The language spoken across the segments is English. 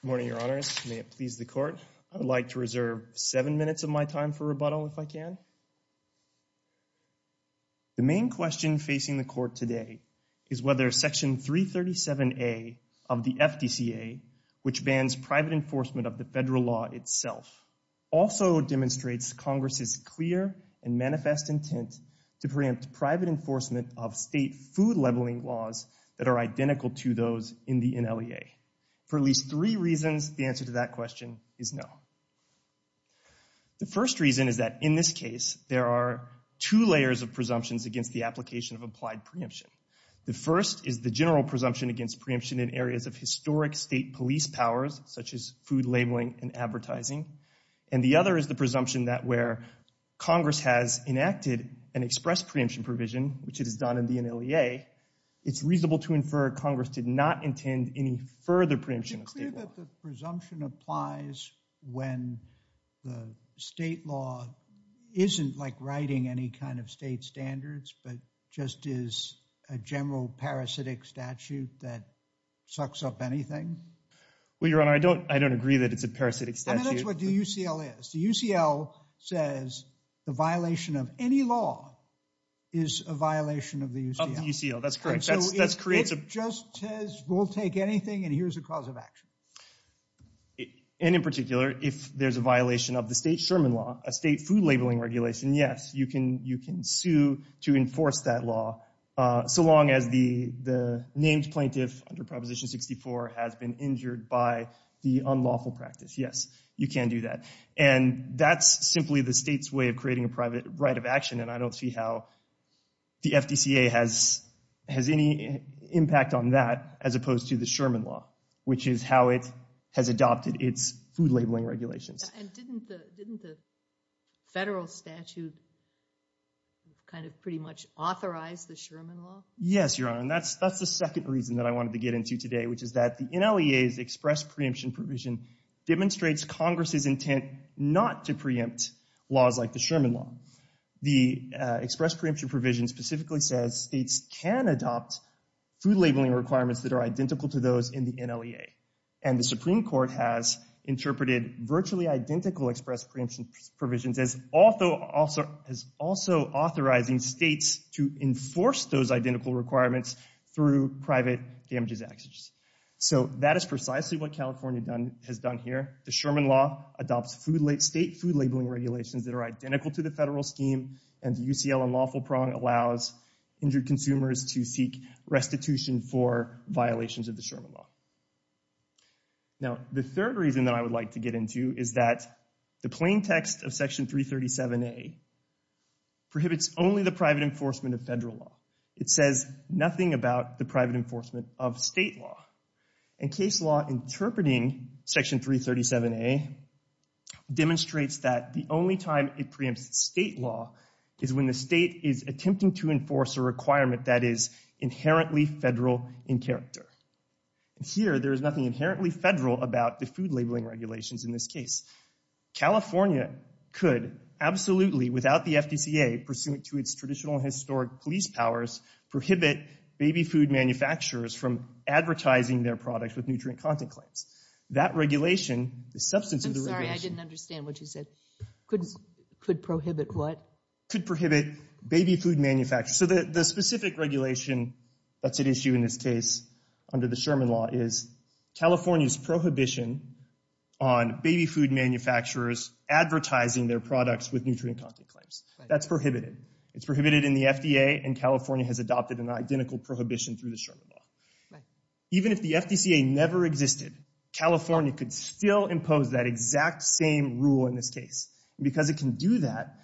Good morning, Your Honors. May it please the Court. I would like to reserve seven minutes of my time for rebuttal if I can. The main question facing the Court today is whether Section 337A of the FDCA, which bans private enforcement of the federal law itself, also demonstrates Congress's clear and manifest intent to preempt private enforcement of state food labeling laws that are identical to those in the NLEA. For at least three reasons, the answer to that question is no. The first reason is that in this case, there are two layers of presumptions against the application of applied preemption. The first is the general presumption against preemption in areas of historic state police powers, such as food labeling and advertising. And the other is the presumption that where Congress has enacted an express preemption provision, which it has done in the NLEA, it's reasonable to infer Congress did not intend any further preemption of state law. Do you think that the presumption applies when the state law isn't like writing any kind of state standards, but just is a general parasitic statute that sucks up anything? Well, Your Honor, I don't agree that it's a parasitic statute. I mean, that's what the UCL is. The UCL says the violation of any law is a violation of the UCL. Of the UCL. That's correct. That creates a… It just says we'll take anything and here's a cause of action. And in particular, if there's a violation of the state Sherman law, a state food labeling regulation, yes, you can sue to enforce that law, so long as the named plaintiff under Proposition 64 has been injured by the unlawful practice. Yes, you can do that. And that's simply the state's way of creating a private right of action, and I don't see how the FDCA has any impact on that as opposed to the Sherman law, which is how it has adopted its food labeling regulations. And didn't the federal statute kind of pretty much authorize the Sherman law? Yes, Your Honor, and that's the second reason that I wanted to get into today, which is that the NLEA's express preemption provision demonstrates Congress's intent not to preempt laws like the Sherman law. The express preemption provision specifically says states can adopt food labeling requirements that are identical to those in the NLEA. And the Supreme Court has interpreted virtually identical express preemption provisions as also authorizing states to enforce those identical requirements through private damages actions. So that is precisely what California has done here. The Sherman law adopts state food labeling regulations that are identical to the federal scheme, and the UCL unlawful prong allows injured consumers to seek restitution for violations of the Sherman law. Now, the third reason that I would like to get into is that the plain text of Section 337A prohibits only the private enforcement of federal law. It says nothing about the private enforcement of state law. And case law interpreting Section 337A demonstrates that the only time it preempts state law is when the state is attempting to enforce a requirement that is inherently federal in character. And here, there is nothing inherently federal about the food labeling regulations in this case. California could absolutely, without the FDCA, pursuant to its traditional historic police powers, prohibit baby food manufacturers from advertising their products with nutrient content claims. That regulation, the substance of the regulation- I'm sorry, I didn't understand what you said. Could prohibit what? Could prohibit baby food manufacturers. So the specific regulation that's at issue in this case under the Sherman law is California's prohibition on baby food manufacturers advertising their products with nutrient content claims. That's prohibited. It's prohibited in the FDA, and California has adopted an identical prohibition through the Sherman law. Even if the FDCA never existed, California could still impose that exact same rule in this case. And because it can do that,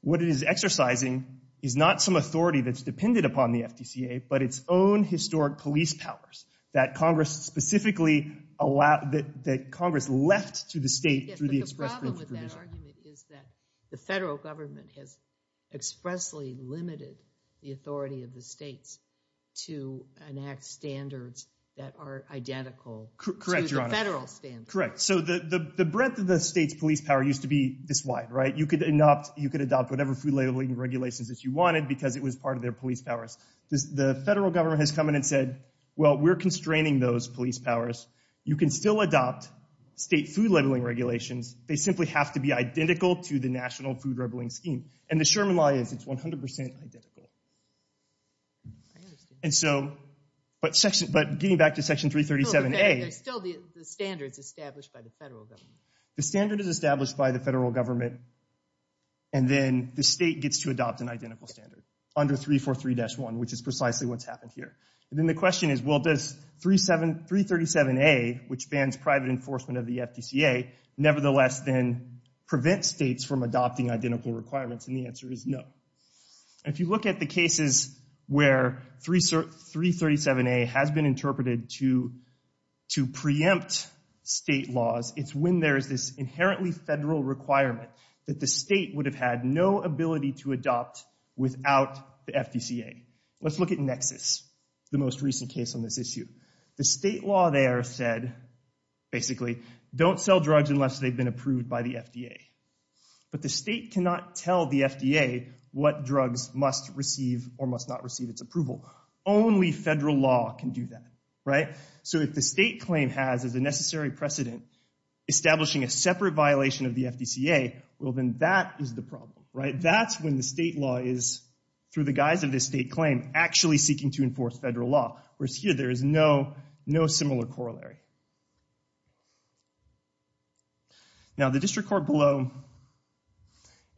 what it is exercising is not some authority that's depended upon the FDCA, but its own historic police powers that Congress specifically allowed- that Congress left to the state through the express provision. Yes, but the problem with that argument is that the federal government has expressly limited the authority of the states to enact standards that are identical to the federal standards. Correct, Your Honor. None of the state's police power used to be this wide, right? You could adopt whatever food labeling regulations that you wanted because it was part of their police powers. The federal government has come in and said, well, we're constraining those police powers. You can still adopt state food labeling regulations. They simply have to be identical to the national food labeling scheme. And the Sherman law is, it's 100% identical. I understand. And so, but getting back to Section 337A- There's still the standards established by the federal government. The standard is established by the federal government. And then the state gets to adopt an identical standard under 343-1, which is precisely what's happened here. And then the question is, well, does 337A, which bans private enforcement of the FDCA, nevertheless then prevent states from adopting identical requirements? And the answer is no. If you look at the cases where 337A has been interpreted to preempt state laws, it's when there's this inherently federal requirement that the state would have had no ability to adopt without the FDCA. Let's look at Nexus, the most recent case on this issue. The state law there said, basically, don't sell drugs unless they've been approved by the FDA. But the state cannot tell the FDA what drugs must receive or must not receive its approval. Only federal law can do that, right? So if the state claim has as a necessary precedent establishing a separate violation of the FDCA, well, then that is the problem, right? That's when the state law is, through the guise of the state claim, actually seeking to enforce federal law. Whereas here, there is no similar corollary. Now, the district court below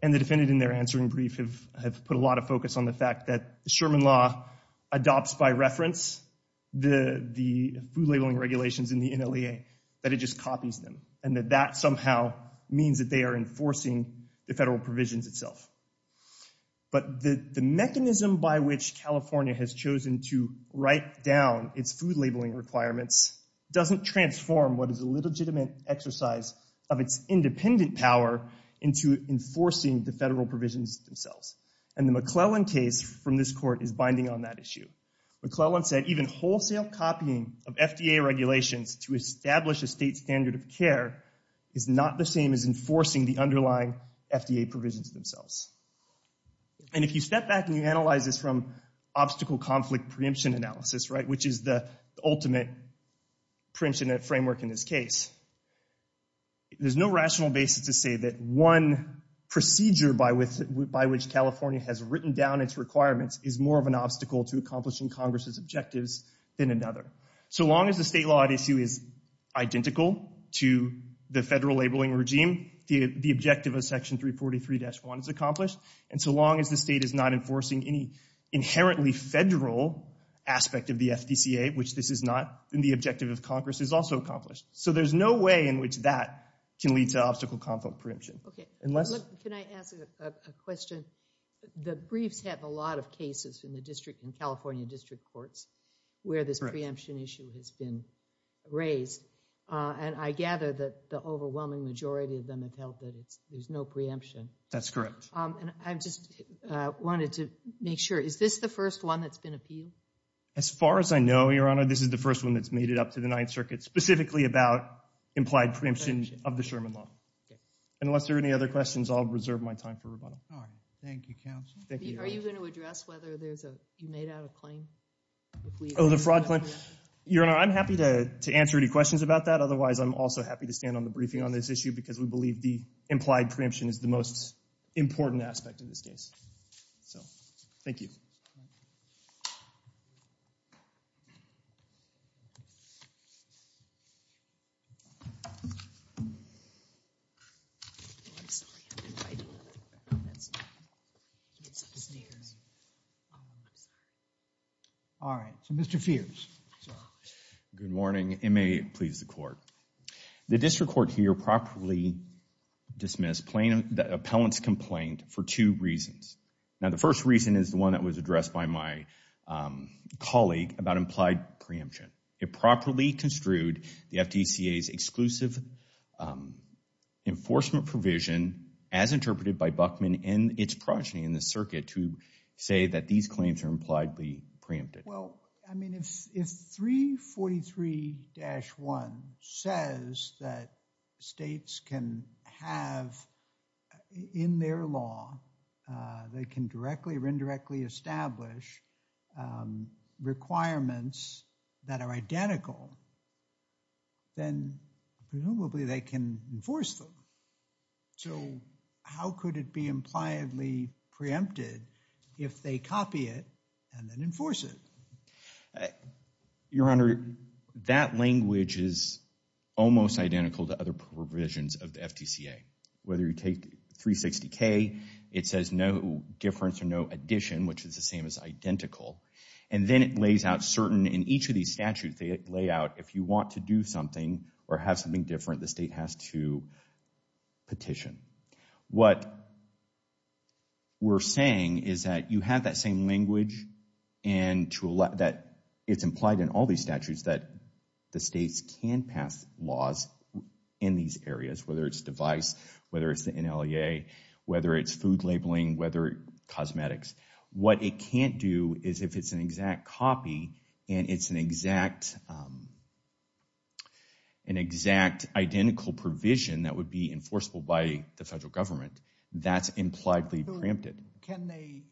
and the defendant in their answering brief have put a lot of focus on the fact that the Sherman Law adopts by reference the food labeling regulations in the NLEA, that it just copies them. And that that somehow means that they are enforcing the federal provisions itself. But the mechanism by which California has chosen to write down its food labeling requirements doesn't transform what is a legitimate exercise of its independent power into enforcing the federal provisions themselves. And the McClellan case from this court is binding on that issue. McClellan said even wholesale copying of FDA regulations to establish a state standard of care is not the same as enforcing the underlying FDA provisions themselves. And if you step back and you analyze this from obstacle conflict preemption analysis, right, which is the ultimate preemption framework in this case, there's no rational basis to say that one procedure by which California has written down its requirements is more of an obstacle to accomplishing Congress's objectives than another. So long as the state law at issue is identical to the federal labeling regime, the objective of Section 343-1 is accomplished. And so long as the state is not enforcing any inherently federal aspect of the FDCA, which this is not, then the objective of Congress is also accomplished. So there's no way in which that can lead to obstacle conflict preemption. Can I ask a question? The briefs have a lot of cases in the district, in California district courts, where this preemption issue has been raised. And I gather that the overwhelming majority of them have held that there's no preemption. That's correct. And I just wanted to make sure, is this the first one that's been appealed? As far as I know, Your Honor, this is the first one that's made it up to the Ninth Circuit, specifically about implied preemption of the Sherman Law. Unless there are any other questions, I'll reserve my time for rebuttal. All right. Thank you, counsel. Are you going to address whether you made out a claim? Oh, the fraud claim? Your Honor, I'm happy to answer any questions about that. Otherwise, I'm also happy to stand on the briefing on this issue because we believe the implied preemption is the most important aspect of this case. So thank you. All right. So Mr. Feers. Good morning. And may it please the Court. The district court here properly dismissed the appellant's complaint for two reasons. Now, the first reason is the one that was addressed by my colleague about implied preemption. It properly construed the FDCA's exclusive enforcement provision, as interpreted by Buckman and its progeny in the circuit, to say that these claims are impliedly preempted. Well, I mean, if 343-1 says that states can have in their law, they can directly or indirectly establish requirements that are identical, then presumably they can enforce them. So how could it be impliedly preempted if they copy it and then enforce it? Your Honor, that language is almost identical to other provisions of the FDCA. Whether you take 360-K, it says no difference or no addition, which is the same as identical. And then it lays out certain, in each of these statutes, they lay out if you want to do something or have something different, the state has to petition. What we're saying is that you have that same language and that it's implied in all these statutes that the states can pass laws in these areas, whether it's device, whether it's the NLEA, whether it's food labeling, whether it's cosmetics. What it can't do is if it's an exact copy and it's an exact identical provision that would be enforceable by the federal government, that's impliedly preempted.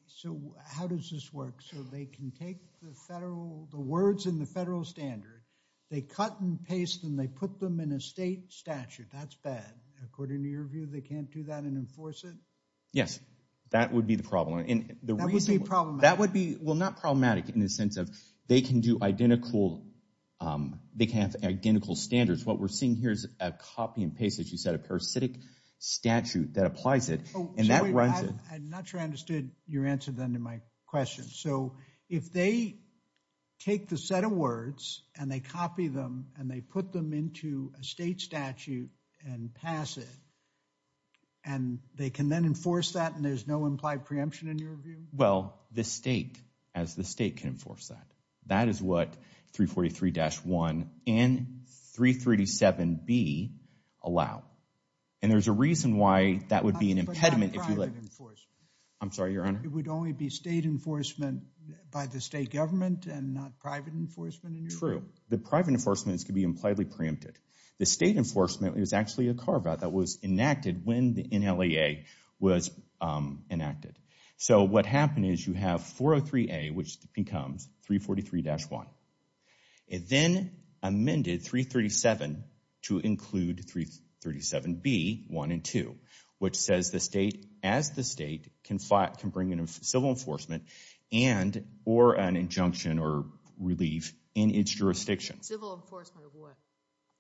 So how does this work? So they can take the words in the federal standard, they cut and paste and they put them in a state statute. That's bad. According to your view, they can't do that and enforce it? Yes, that would be the problem. That would be problematic. That would be, well, not problematic in the sense of they can do identical, they can't have identical standards. What we're seeing here is a copy and paste, as you said, a parasitic statute that applies it. I'm not sure I understood your answer then to my question. So if they take the set of words and they copy them and they put them into a state statute and pass it, and they can then enforce that and there's no implied preemption in your view? Well, the state, as the state can enforce that. That is what 343-1 and 337B allow. And there's a reason why that would be an impediment. But not private enforcement. I'm sorry, Your Honor. It would only be state enforcement by the state government and not private enforcement in your view? True. The private enforcement is to be impliedly preempted. The state enforcement is actually a carve-out that was enacted when the NLEA was enacted. So what happened is you have 403A, which becomes 343-1. It then amended 337 to include 337B, 1 and 2, which says the state, as the state, can bring in civil enforcement and or an injunction or relief in its jurisdiction. Civil enforcement of what?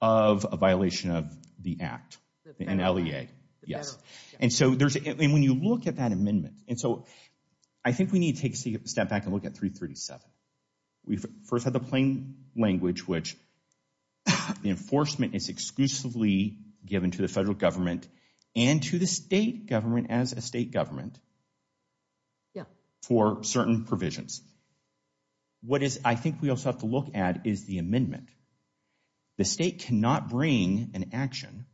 Of a violation of the Act. The NLEA. Yes. And so when you look at that amendment, and so I think we need to take a step back and look at 337. We first had the plain language, which the enforcement is exclusively given to the federal government and to the state government as a state government for certain provisions. What is, I think we also have to look at, is the amendment. The state cannot bring an action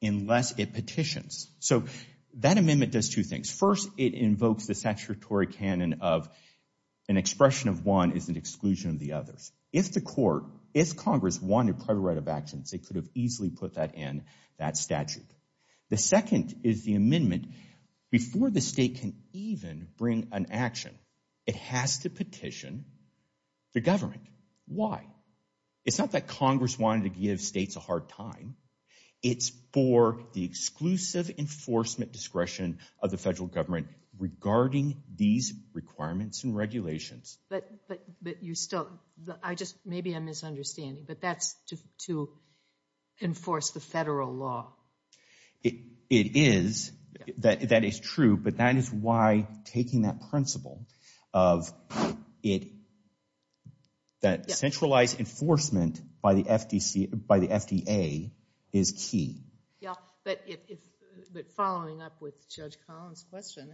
unless it petitions. So that amendment does two things. First, it invokes the statutory canon of an expression of one is an exclusion of the others. If the court, if Congress wanted private right of actions, it could have easily put that in that statute. The second is the amendment, before the state can even bring an action, it has to petition the government. Why? It's not that Congress wanted to give states a hard time. It's for the exclusive enforcement discretion of the federal government regarding these requirements and regulations. But you still, I just, maybe I'm misunderstanding, but that's to enforce the federal law. It is, that is true, but that is why taking that principle of it, that centralized enforcement by the FDA is key. Yeah, but following up with Judge Collins' question,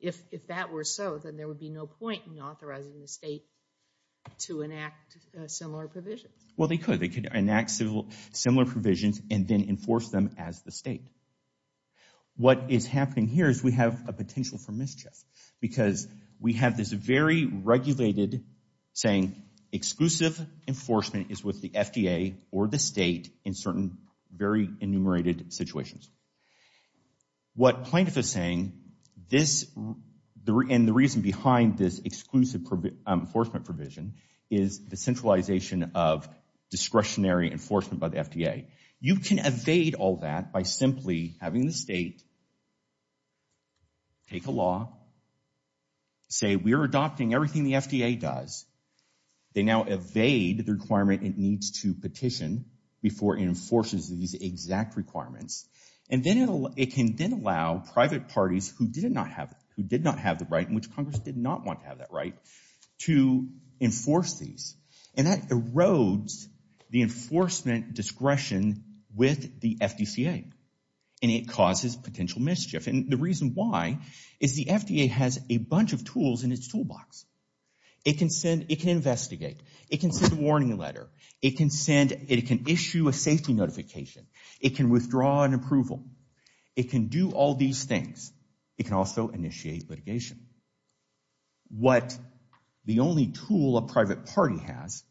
if that were so, then there would be no point in authorizing the state to enact similar provisions. Well, they could. They could enact similar provisions and then enforce them as the state. What is happening here is we have a potential for mischief because we have this very regulated saying exclusive enforcement is with the FDA or the state in certain very enumerated situations. What plaintiff is saying, and the reason behind this exclusive enforcement provision, is the centralization of discretionary enforcement by the FDA. You can evade all that by simply having the state take a law, say we are adopting everything the FDA does. They now evade the requirement it needs to petition before it enforces these exact requirements. And then it can then allow private parties who did not have the right, in which Congress did not want to have that right, to enforce these. And that erodes the enforcement discretion with the FDCA, and it causes potential mischief. And the reason why is the FDA has a bunch of tools in its toolbox. It can send, it can investigate. It can send a warning letter. It can send, it can issue a safety notification. It can withdraw an approval. It can do all these things. It can also initiate litigation. What the only tool a private party has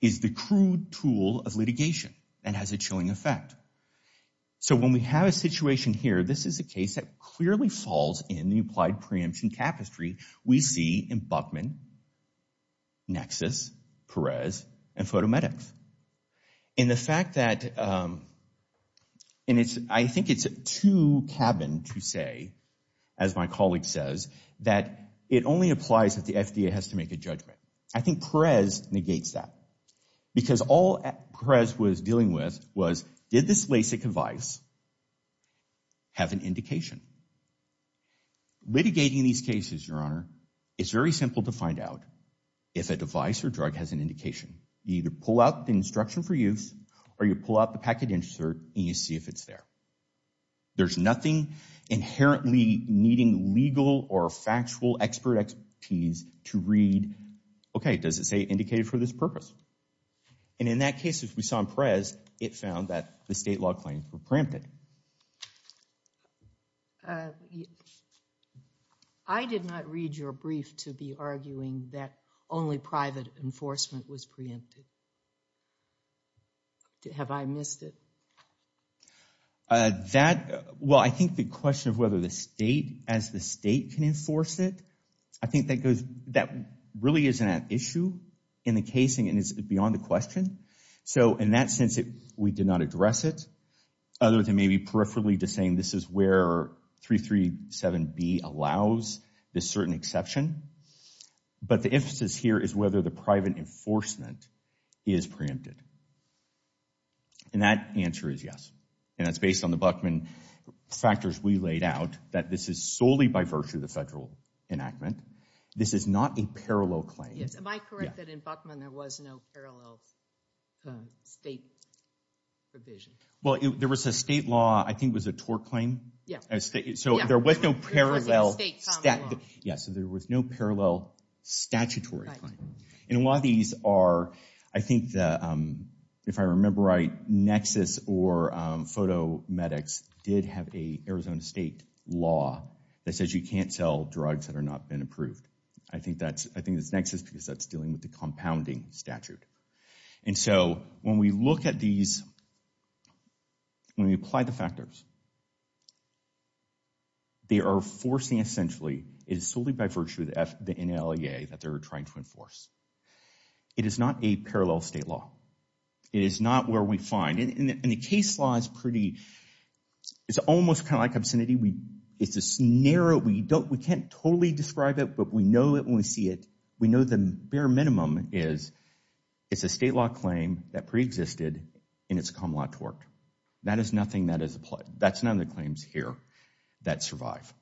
is the crude tool of litigation and has a chilling effect. So when we have a situation here, this is a case that clearly falls in the applied preemption tapestry we see in Buckman, Nexus, Perez, and Photomedics. And the fact that, and I think it's too cabin to say, as my colleague says, that it only applies if the FDA has to make a judgment. I think Perez negates that. Because all Perez was dealing with was did this LASIK device have an indication? Litigating these cases, Your Honor, is very simple to find out if a device or drug has an indication. You either pull out the instruction for use or you pull out the packet insert and you see if it's there. There's nothing inherently needing legal or factual expert expertise to read, okay, does it say indicated for this purpose? And in that case, as we saw in Perez, it found that the state law claims were preempted. I did not read your brief to be arguing that only private enforcement was preempted. Have I missed it? That, well, I think the question of whether the state, as the state can enforce it, I think that really isn't an issue in the case and is beyond the question. So in that sense, we did not address it, other than maybe peripherally to saying this is where 337B allows this certain exception. But the emphasis here is whether the private enforcement is preempted. And that answer is yes. And it's based on the Buckman factors we laid out that this is solely by virtue of the federal enactment. This is not a parallel claim. Am I correct that in Buckman there was no parallel state provision? Well, there was a state law, I think it was a tort claim. Yeah. So there was no parallel. It was a state common law. Yeah, so there was no parallel statutory claim. And a lot of these are, I think, if I remember right, Nexus or PhotoMedx did have an Arizona State law that says you can't sell drugs that have not been approved. I think that's Nexus because that's dealing with the compounding statute. And so when we look at these, when we apply the factors, they are forcing essentially, it is solely by virtue of the NLEA that they're trying to enforce. It is not a parallel state law. It is not where we find, and the case law is pretty, it's almost kind of like obscenity. It's this narrow, we can't totally describe it, but we know it when we see it. We know the bare minimum is it's a state law claim that preexisted in its common law tort. That is nothing that is applied. That's none of the claims here that survive.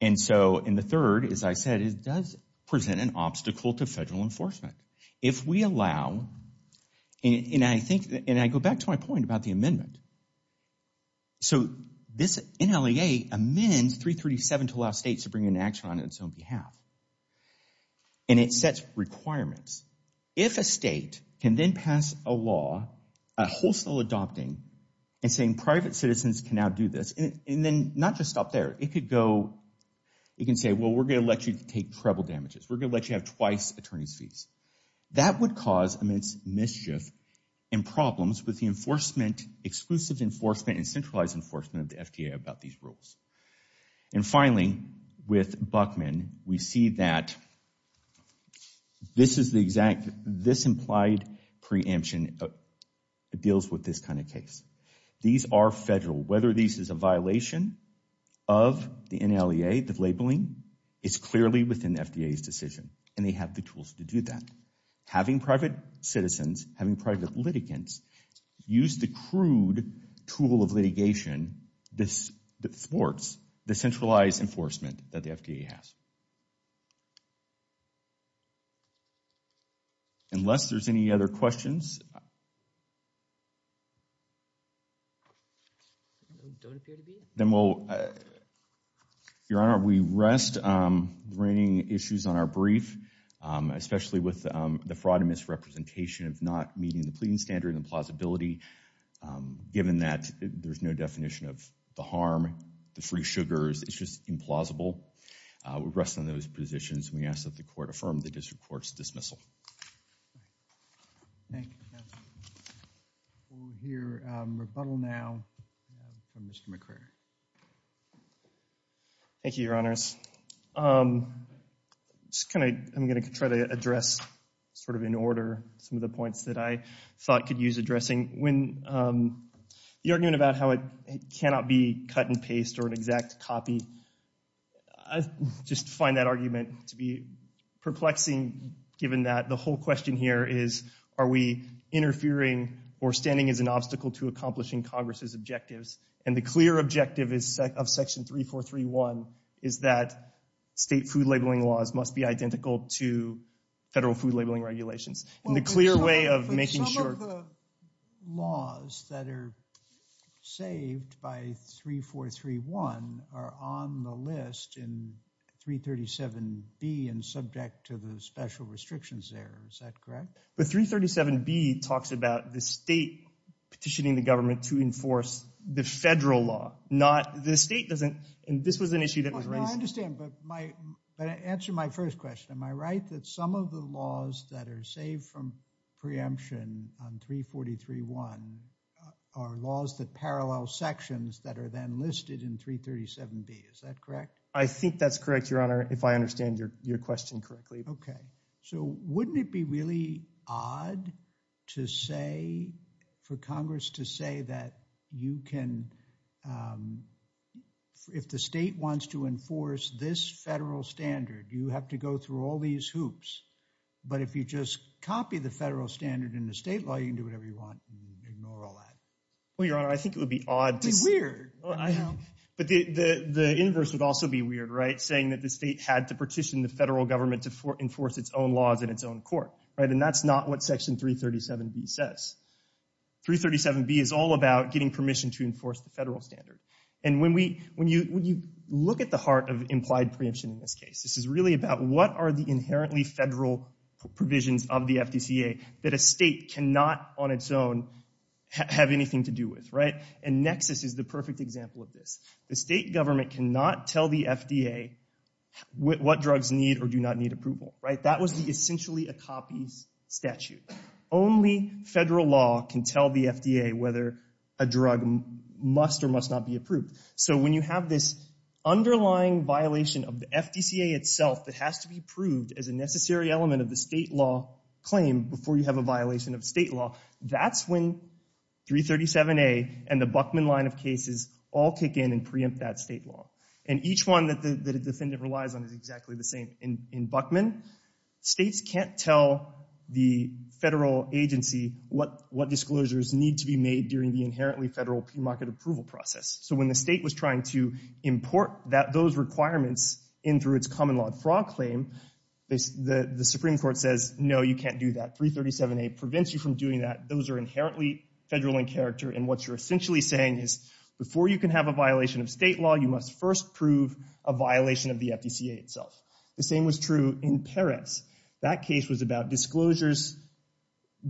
And so, and the third, as I said, it does present an obstacle to federal enforcement. If we allow, and I think, and I go back to my point about the amendment. So this NLEA amends 337 to allow states to bring an action on its own behalf. And it sets requirements. If a state can then pass a law, a wholesale adopting, and saying private citizens can now do this, and then not just stop there. It could go, it can say, well, we're going to let you take treble damages. That would cause immense mischief and problems with the enforcement, exclusive enforcement and centralized enforcement of the FDA about these rules. And finally, with Buckman, we see that this is the exact, this implied preemption deals with this kind of case. These are federal, whether this is a violation of the NLEA, the labeling, it's clearly within the FDA's decision. And they have the tools to do that. Having private citizens, having private litigants, use the crude tool of litigation that thwarts the centralized enforcement that the FDA has. Unless there's any other questions. Then we'll, Your Honor, we rest bringing issues on our brief, especially with the fraud and misrepresentation of not meeting the pleading standard and plausibility. Given that there's no definition of the harm, the free sugars, it's just implausible. We rest on those positions. We ask that the court affirm the district court's dismissal. Thank you, counsel. We'll hear rebuttal now from Mr. McRae. Thank you, Your Honors. Just kind of, I'm going to try to address sort of in order some of the points that I thought could use addressing. When the argument about how it cannot be cut and paste or an exact copy, I just find that argument to be perplexing given that the whole question here is, are we interfering or standing as an obstacle to accomplishing Congress's objectives? And the clear objective of Section 3431 is that state food labeling laws must be identical to federal food labeling regulations. Some of the laws that are saved by 3431 are on the list in 337B and subject to the special restrictions there. Is that correct? But 337B talks about the state petitioning the government to enforce the federal law, not the state. And this was an issue that was raised. I understand. But answer my first question. Am I right that some of the laws that are saved from preemption on 3431 are laws that parallel sections that are then listed in 337B? Is that correct? I think that's correct, Your Honor, if I understand your question correctly. Okay. So wouldn't it be really odd to say – for Congress to say that you can – if the state wants to enforce this federal standard, you have to go through all these hoops. But if you just copy the federal standard in the state law, you can do whatever you want and ignore all that. Well, Your Honor, I think it would be odd. It would be weird. But the inverse would also be weird, right, saying that the state had to petition the federal government to enforce its own laws in its own court. And that's not what Section 337B says. 337B is all about getting permission to enforce the federal standard. And when you look at the heart of implied preemption in this case, this is really about what are the inherently federal provisions of the FDCA that a state cannot on its own have anything to do with. And nexus is the perfect example of this. The state government cannot tell the FDA what drugs need or do not need approval. That was essentially a copy statute. Only federal law can tell the FDA whether a drug must or must not be approved. So when you have this underlying violation of the FDCA itself that has to be proved as a necessary element of the state law claim before you have a violation of state law, that's when 337A and the Buckman line of cases all kick in and preempt that state law. And each one that a defendant relies on is exactly the same. In Buckman, states can't tell the federal agency what disclosures need to be made during the inherently federal premarket approval process. So when the state was trying to import those requirements in through its common law fraud claim, the Supreme Court says, no, you can't do that. 337A prevents you from doing that. Those are inherently federal in character. And what you're essentially saying is before you can have a violation of state law, you must first prove a violation of the FDCA itself. The same was true in Perez. That case was about disclosing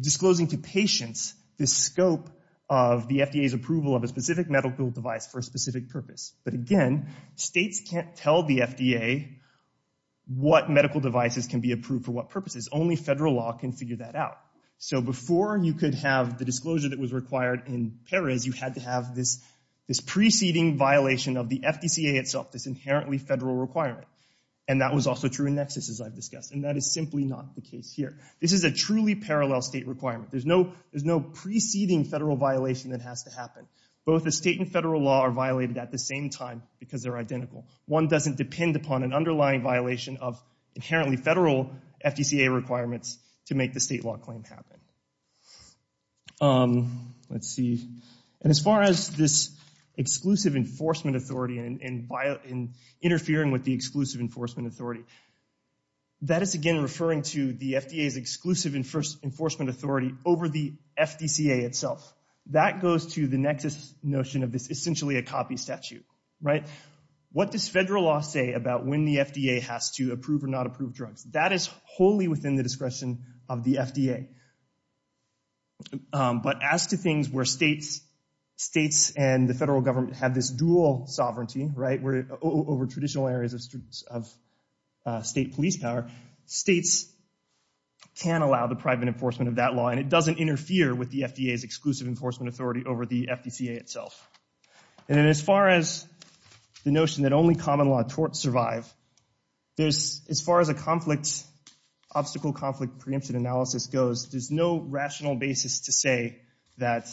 to patients the scope of the FDA's approval of a specific medical device for a specific purpose. But again, states can't tell the FDA what medical devices can be approved for what purposes. Only federal law can figure that out. So before you could have the disclosure that was required in Perez, you had to have this preceding violation of the FDCA itself, this inherently federal requirement. And that was also true in Nexus, as I've discussed. And that is simply not the case here. This is a truly parallel state requirement. There's no preceding federal violation that has to happen. Both the state and federal law are violated at the same time because they're identical. One doesn't depend upon an underlying violation of inherently federal FDCA requirements to make the state law claim happen. Let's see. And as far as this exclusive enforcement authority and interfering with the exclusive enforcement authority, that is again referring to the FDA's exclusive enforcement authority over the FDCA itself. That goes to the Nexus notion of this essentially a copy statute, right? What does federal law say about when the FDA has to approve or not approve drugs? That is wholly within the discretion of the FDA. But as to things where states and the federal government have this dual sovereignty over traditional areas of state police power, states can allow the private enforcement of that law. And it doesn't interfere with the FDA's exclusive enforcement authority over the FDCA itself. And as far as the notion that only common law torts survive, as far as a conflict obstacle conflict preemptive analysis goes, there's no rational basis to say that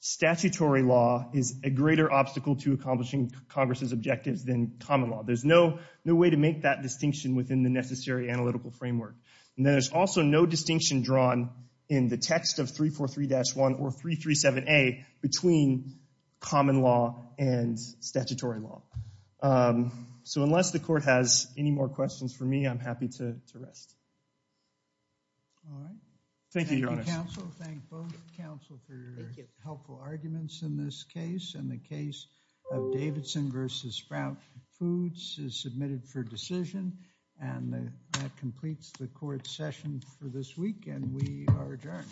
statutory law is a greater obstacle to accomplishing Congress's objectives than common law. There's no way to make that distinction within the necessary analytical framework. And there's also no distinction drawn in the text of 343-1 or 337A between common law and statutory law. So unless the court has any more questions for me, I'm happy to rest. All right. Thank you, Your Honor. Thank you, counsel. Thank both counsel for your helpful arguments in this case. And the case of Davidson versus Sprout Foods is submitted for decision. And that completes the court session for this week. And we are adjourned.